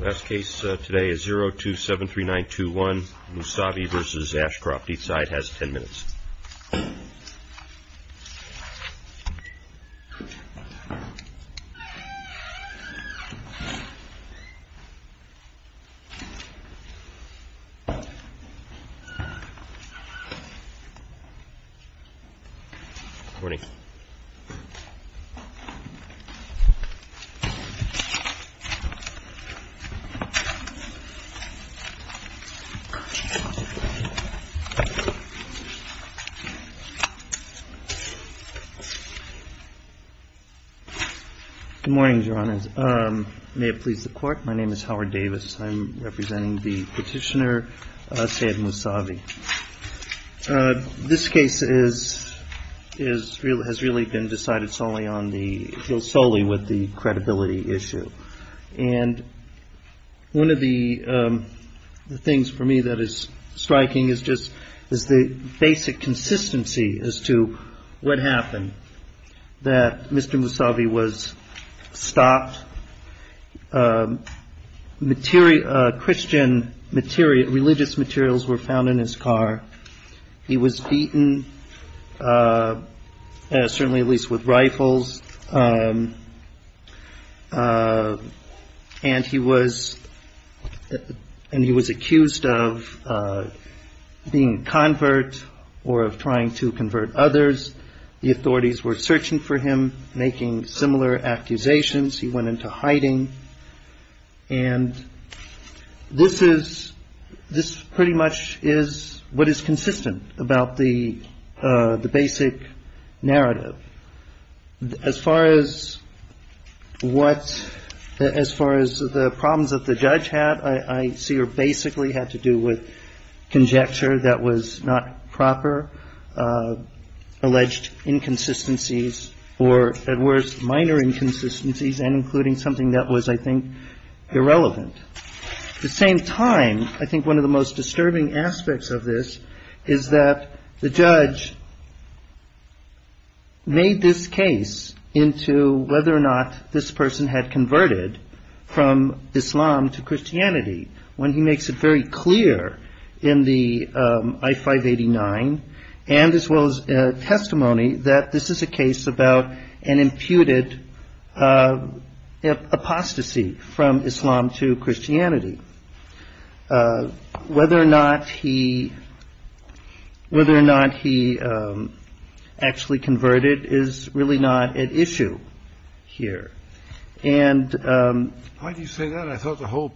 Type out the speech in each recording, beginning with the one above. Last case today is 0273921 Mousavi v. Ashcroft. Each side has ten minutes. Good morning. Good morning, Your Honors. May it please the Court, my name is Howard Davis. I'm representing the petitioner, Saeed Mousavi. This case has really been decided solely with the credibility issue. And one of the things for me that is striking is just the basic consistency as to what happened, that Mr. Mousavi was stopped. Christian religious materials were found in his car. He was beaten, certainly at least with rifles. And he was accused of being a convert or of trying to convert others. The authorities were searching for him, making similar accusations. He went into hiding. And this is this pretty much is what is consistent about the basic narrative. As far as what as far as the problems that the judge had, I see are basically had to do with conjecture that was not proper. Alleged inconsistencies or, at worst, minor inconsistencies and including something that was, I think, irrelevant. At the same time, I think one of the most disturbing aspects of this is that the judge made this case into whether or not this person had converted from Islam to Christianity. When he makes it very clear in the I-589 and as well as testimony that this is a case about an imputed apostasy from Islam to Christianity. Whether or not he actually converted is really not at issue here. And why do you say that? I thought the whole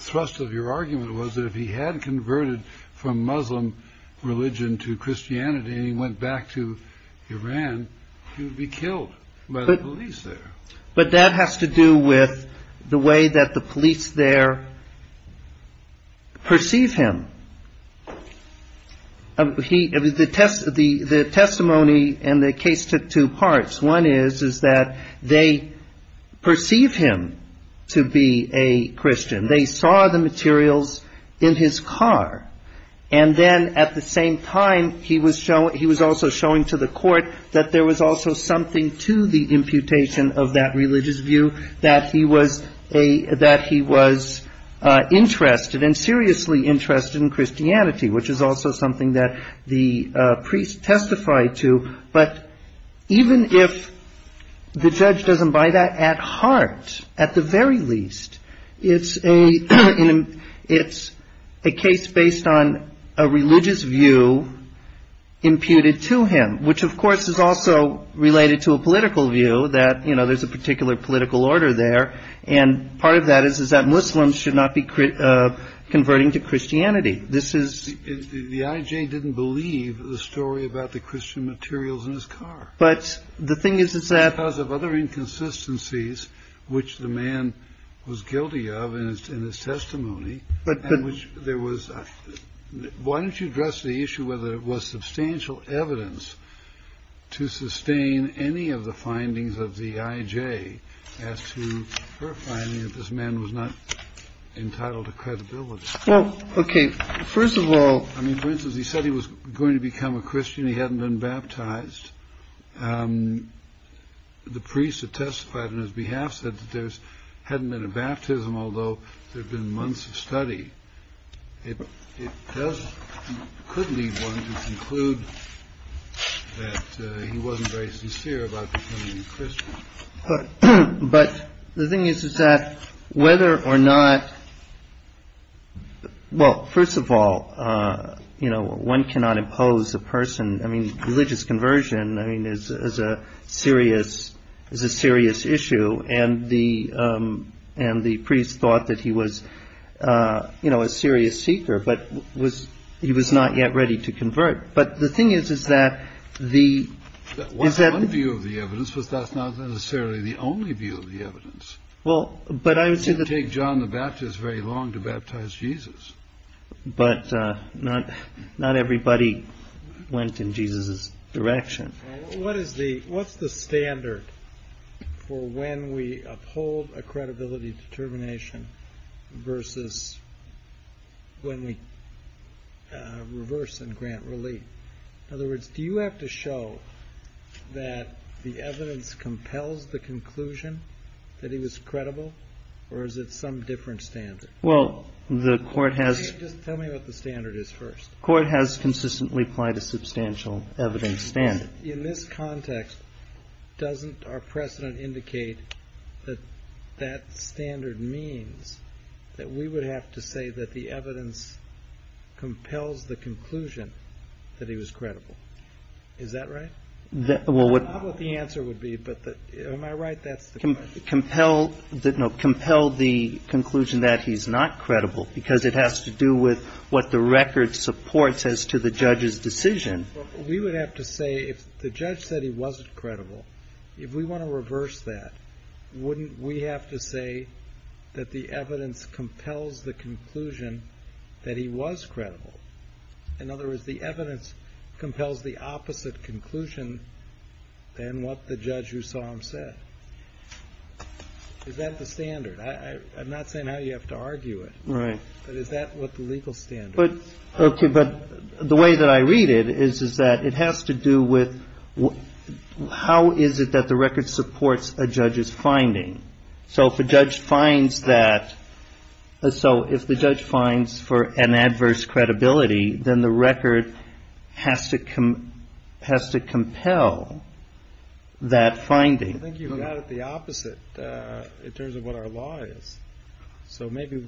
thrust of your argument was that if he had converted from Muslim religion to Christianity and he went back to Iran, he would be killed by the police there. But that has to do with the way that the police there perceive him. The testimony and the case took two parts. One is, is that they perceive him to be a Christian. They saw the materials in his car. And then at the same time, he was showing he was also showing to the court that there was also something to the imputation of that religious view, that he was a that he was interested and seriously interested in Christianity, which is also something that the priest testified to. But even if the judge doesn't buy that at heart, at the very least, it's a it's a case based on a religious view imputed to him, which, of course, is also related to a political view that, you know, there's a particular political order there. And part of that is, is that Muslims should not be converting to Christianity. This is the IJ didn't believe the story about the Christian materials in his car. But the thing is, is that because of other inconsistencies, which the man was guilty of in his testimony, there was. Why don't you address the issue whether it was substantial evidence to sustain any of the findings of the IJ as to her finding that this man was not entitled to credibility? OK. First of all, I mean, for instance, he said he was going to become a Christian. He hadn't been baptized. The priest had testified on his behalf that there's hadn't been a baptism, although there have been months of study. It does could be one to conclude that he wasn't very sincere about becoming a Christian. But the thing is, is that whether or not. Well, first of all, you know, one cannot impose a person. I mean, religious conversion, I mean, is a serious is a serious issue. And the and the priest thought that he was, you know, a serious seeker. But was he was not yet ready to convert. But the thing is, is that the view of the evidence was that's not necessarily the only view of the evidence. Well, but I would say that John the Baptist is very long to baptize Jesus. But not not everybody went in Jesus's direction. What is the what's the standard for when we uphold a credibility determination versus. When we reverse and grant relief, in other words, do you have to show that the evidence compels the conclusion that he was credible or is it some different standard? Well, the court has just tell me what the standard is. First court has consistently applied a substantial evidence standard in this context. Doesn't our precedent indicate that that standard means that we would have to say that the evidence compels the conclusion that he was credible? Is that right? Well, what the answer would be, but am I right? That's the compel that no compelled the conclusion that he's not credible because it has to do with what the record supports as to the judge's decision. We would have to say if the judge said he wasn't credible, if we want to reverse that, wouldn't we have to say that the evidence compels the conclusion that he was credible? In other words, the evidence compels the opposite conclusion than what the judge who saw him said. Is that the standard? I'm not saying how you have to argue it. Right. But is that what the legal standard. But OK, but the way that I read it is, is that it has to do with how is it that the record supports a judge's finding? So if a judge finds that so if the judge finds for an adverse credibility, then the record has to come has to compel that finding. I think you've got it the opposite in terms of what our law is. So maybe.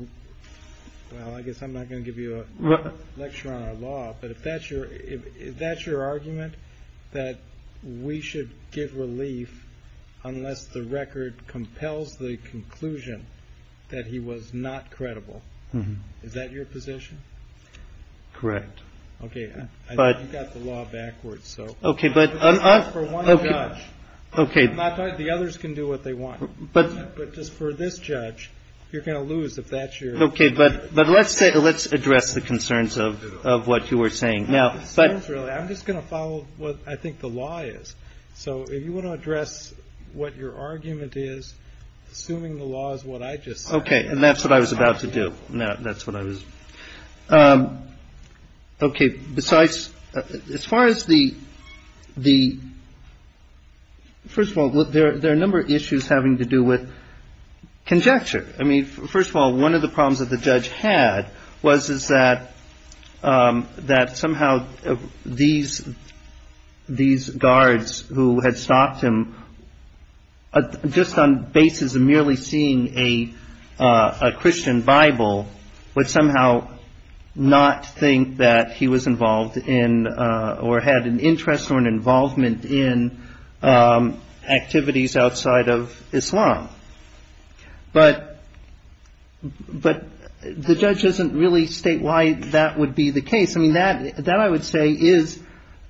Well, I guess I'm not going to give you a lecture on our law. But if that's your if that's your argument, that we should give relief unless the record compels the conclusion that he was not credible. Is that your position? Correct. OK. But you've got the law backwards. So. OK. But OK. The others can do what they want. But but just for this judge, you're going to lose if that's your. OK. But but let's say let's address the concerns of of what you were saying now. But I'm just going to follow what I think the law is. So if you want to address what your argument is, assuming the law is what I just. OK. And that's what I was about to do. Now that's what I was. OK. Besides as far as the the. First of all, there are a number of issues having to do with conjecture. I mean, first of all, one of the problems that the judge had was is that that somehow these these guards who had stopped him. Just on basis of merely seeing a Christian Bible would somehow not think that he was involved in or had an interest or an involvement in activities outside of Islam. But but the judge doesn't really state why that would be the case. I mean, that that I would say is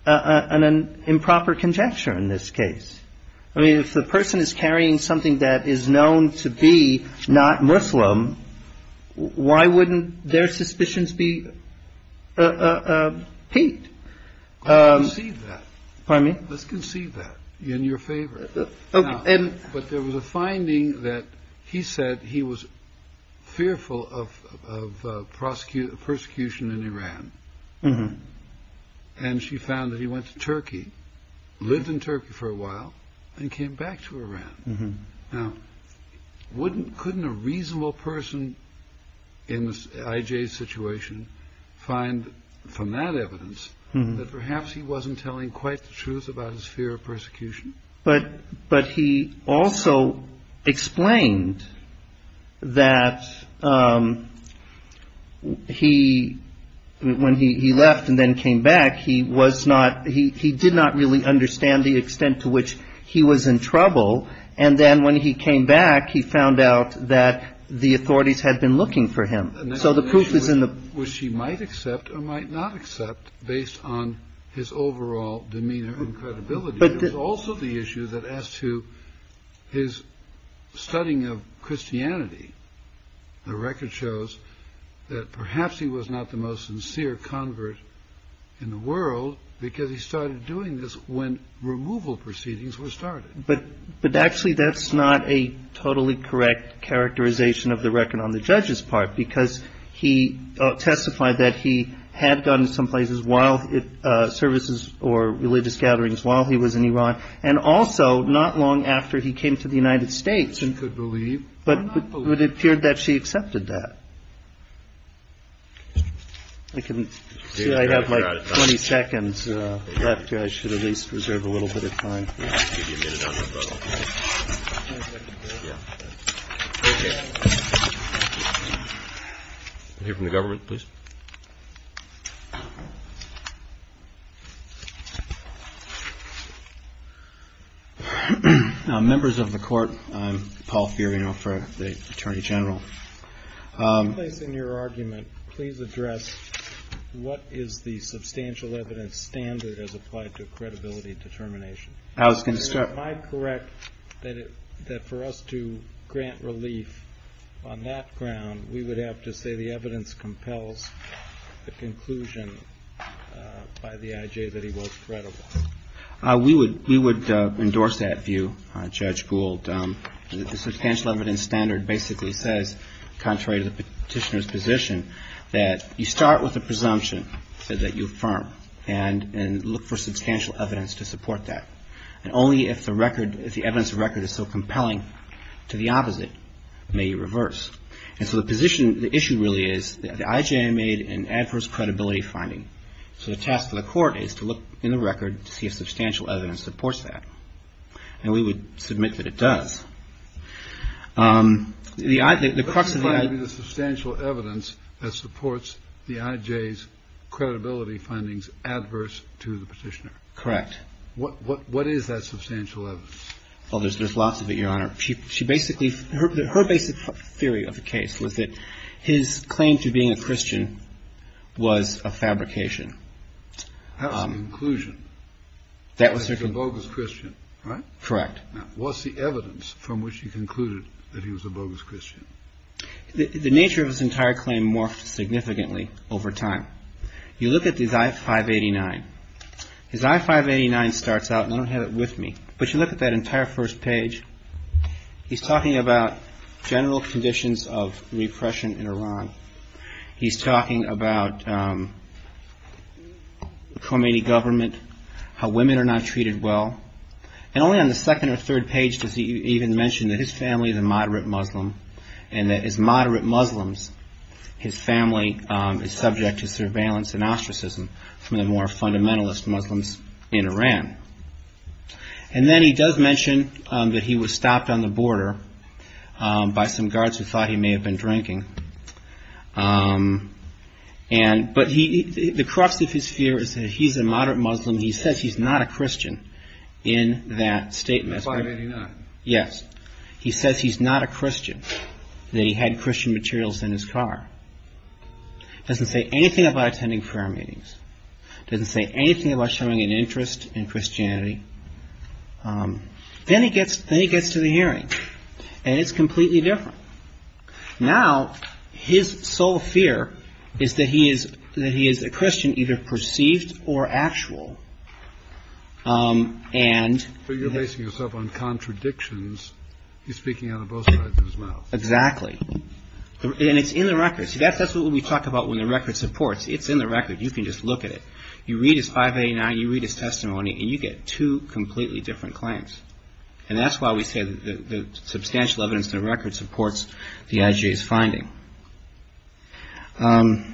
an improper conjecture in this case. I mean, if the person is carrying something that is known to be not Muslim, why wouldn't their suspicions be piqued? I mean, let's concede that in your favor. And but there was a finding that he said he was fearful of of prosecute persecution in Iran. And she found that he went to Turkey, lived in Turkey for a while and came back to Iran. Now, wouldn't couldn't a reasonable person in this situation find from that evidence that perhaps he wasn't telling quite the truth about his fear of persecution. But but he also explained that he when he left and then came back, he was not. He did not really understand the extent to which he was in trouble. And then when he came back, he found out that the authorities had been looking for him. So the proof is in which she might accept or might not accept based on his overall demeanor. Also, the issue that as to his studying of Christianity, the record shows that perhaps he was not the most sincere convert in the world because he started doing this when removal proceedings were started. But but actually, that's not a totally correct characterization of the record on the judge's part, because he testified that he had gone to some places while services or religious gatherings while he was in Iran. And also not long after he came to the United States and could believe, but it appeared that she accepted that. I couldn't say I have 20 seconds left. At least reserve a little bit of time here from the government. Please. Members of the court. Paul, you know, for the attorney general in your argument, please address what is the substantial evidence standard as applied to credibility determination. I was going to start my correct that that for us to grant relief on that ground. We would have to say the evidence compels the conclusion by the IJ that he was credible. We would we would endorse that view. Judge Gould, the substantial evidence standard basically says, contrary to the petitioner's position, that you start with a presumption that you affirm and and look for substantial evidence to support that. And only if the record, if the evidence record is so compelling to the opposite, may you reverse. And so the position, the issue really is the IJ made an adverse credibility finding. So the task of the court is to look in the record to see if substantial evidence supports that. And we would submit that it does. The the crux of the substantial evidence that supports the IJ's credibility findings adverse to the petitioner. Correct. What what what is that substantial evidence? Well, there's there's lots of it, Your Honor. She basically her her basic theory of the case was that his claim to being a Christian was a fabrication. Conclusion that was a bogus Christian. Correct. What's the evidence from which you concluded that he was a bogus Christian? The nature of his entire claim morphed significantly over time. You look at his I-589. His I-589 starts out, and I don't have it with me, but you look at that entire first page. He's talking about general conditions of repression in Iran. He's talking about Khomeini government, how women are not treated well. And only on the second or third page does he even mention that his family is a moderate Muslim and that as moderate Muslims, his family is subject to surveillance and ostracism from the more fundamentalist Muslims in Iran. And then he does mention that he was stopped on the border by some guards who thought he may have been drinking. And but he the crux of his fear is that he's a moderate Muslim. He says he's not a Christian in that statement. Yes. He says he's not a Christian. They had Christian materials in his car. Doesn't say anything about attending prayer meetings. Doesn't say anything about showing an interest in Christianity. Then he gets then he gets to the hearing and it's completely different. Now, his sole fear is that he is that he is a Christian, either perceived or actual. And you're basing yourself on contradictions. He's speaking on both sides of his mouth. Exactly. And it's in the records. That's what we talk about when the record supports. It's in the record. You can just look at it. You read his 589. You read his testimony and you get two completely different claims. And that's why we say that the substantial evidence in the record supports the IJ's finding. I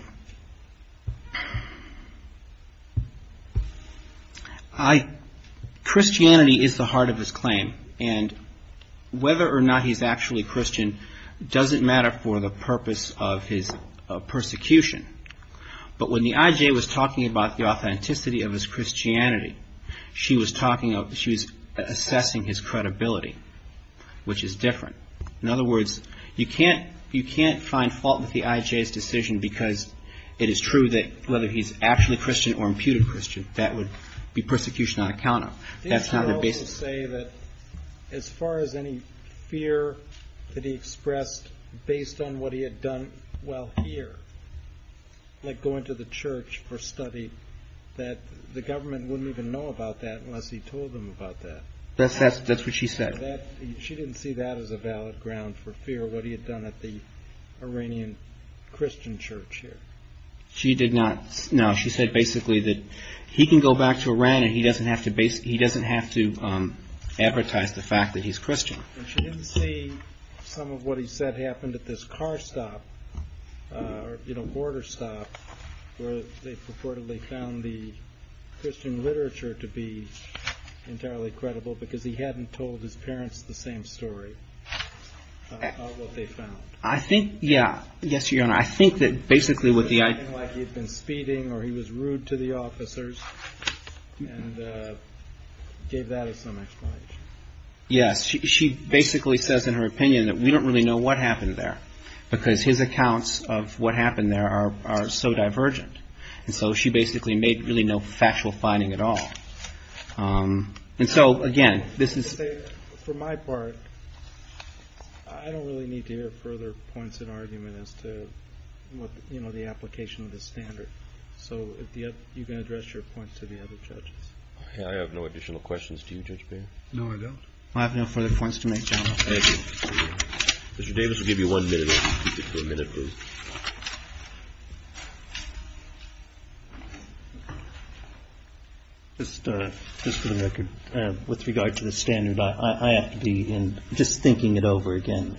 Christianity is the heart of his claim. And whether or not he's actually Christian doesn't matter for the purpose of his persecution. But when the IJ was talking about the authenticity of his Christianity, she was talking about she was assessing his credibility, which is different. In other words, you can't you can't find fault with the IJ's decision, because it is true that whether he's actually Christian or imputed Christian, that would be persecution on account of that's not the basis. Say that as far as any fear that he expressed based on what he had done. Well, here, like going to the church for study, that the government wouldn't even know about that unless he told them about that. That's that's that's what she said. She didn't see that as a valid ground for fear. What he had done at the Iranian Christian church here. She did not know. She said basically that he can go back to Iran and he doesn't have to base. He doesn't have to advertise the fact that he's Christian. And she didn't see some of what he said happened at this car stop, you know, border stop where they purportedly found the Christian literature to be entirely credible because he hadn't told his parents the same story. What they found, I think. Yeah. Yes, your honor. I think that basically what the IJ had been speeding or he was rude to the officers and gave that as some explanation. Yes. She basically says in her opinion that we don't really know what happened there because his accounts of what happened there are so divergent. And so she basically made really no factual finding at all. And so, again, this is for my part. I don't really need to hear further points in argument as to what the application of the standard. So you can address your point to the other judges. I have no additional questions to you, Judge. No, I don't. I have no further points to make. Mr. Davis will give you one minute. Just for the record, with regard to the standard, I have to be in just thinking it over again.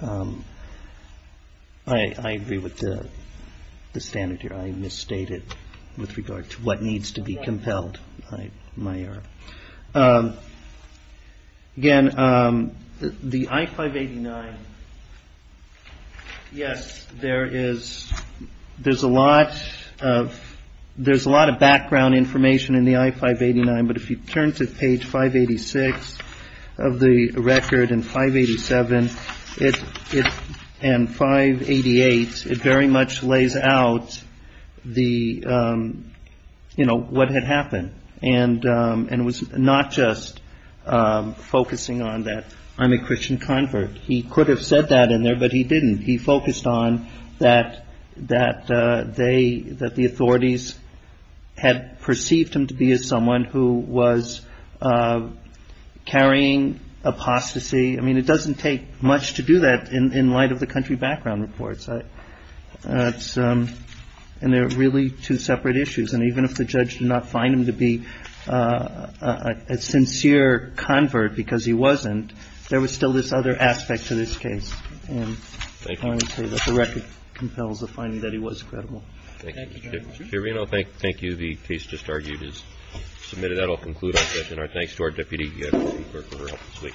I agree with the standard here. I misstated with regard to what needs to be compelled. My. Again, the I-589. Yes, there is. There's a lot of there's a lot of background information in the I-589. But if you turn to page 586 of the record and 587 and 588, it very much lays out the, you know, what had happened. And it was not just focusing on that. I'm a Christian convert. He could have said that in there, but he didn't. He focused on that, that they that the authorities had perceived him to be as someone who was carrying apostasy. I mean, it doesn't take much to do that in light of the country background reports. And they're really two separate issues. And even if the judge did not find him to be a sincere convert because he wasn't, there was still this other aspect to this case. And I would say that the record compels the finding that he was credible. Thank you. Thank you. Thank you. The case just argued is submitted. That'll conclude our session. Our thanks to our deputy chief clerk for her help this week. Thank you.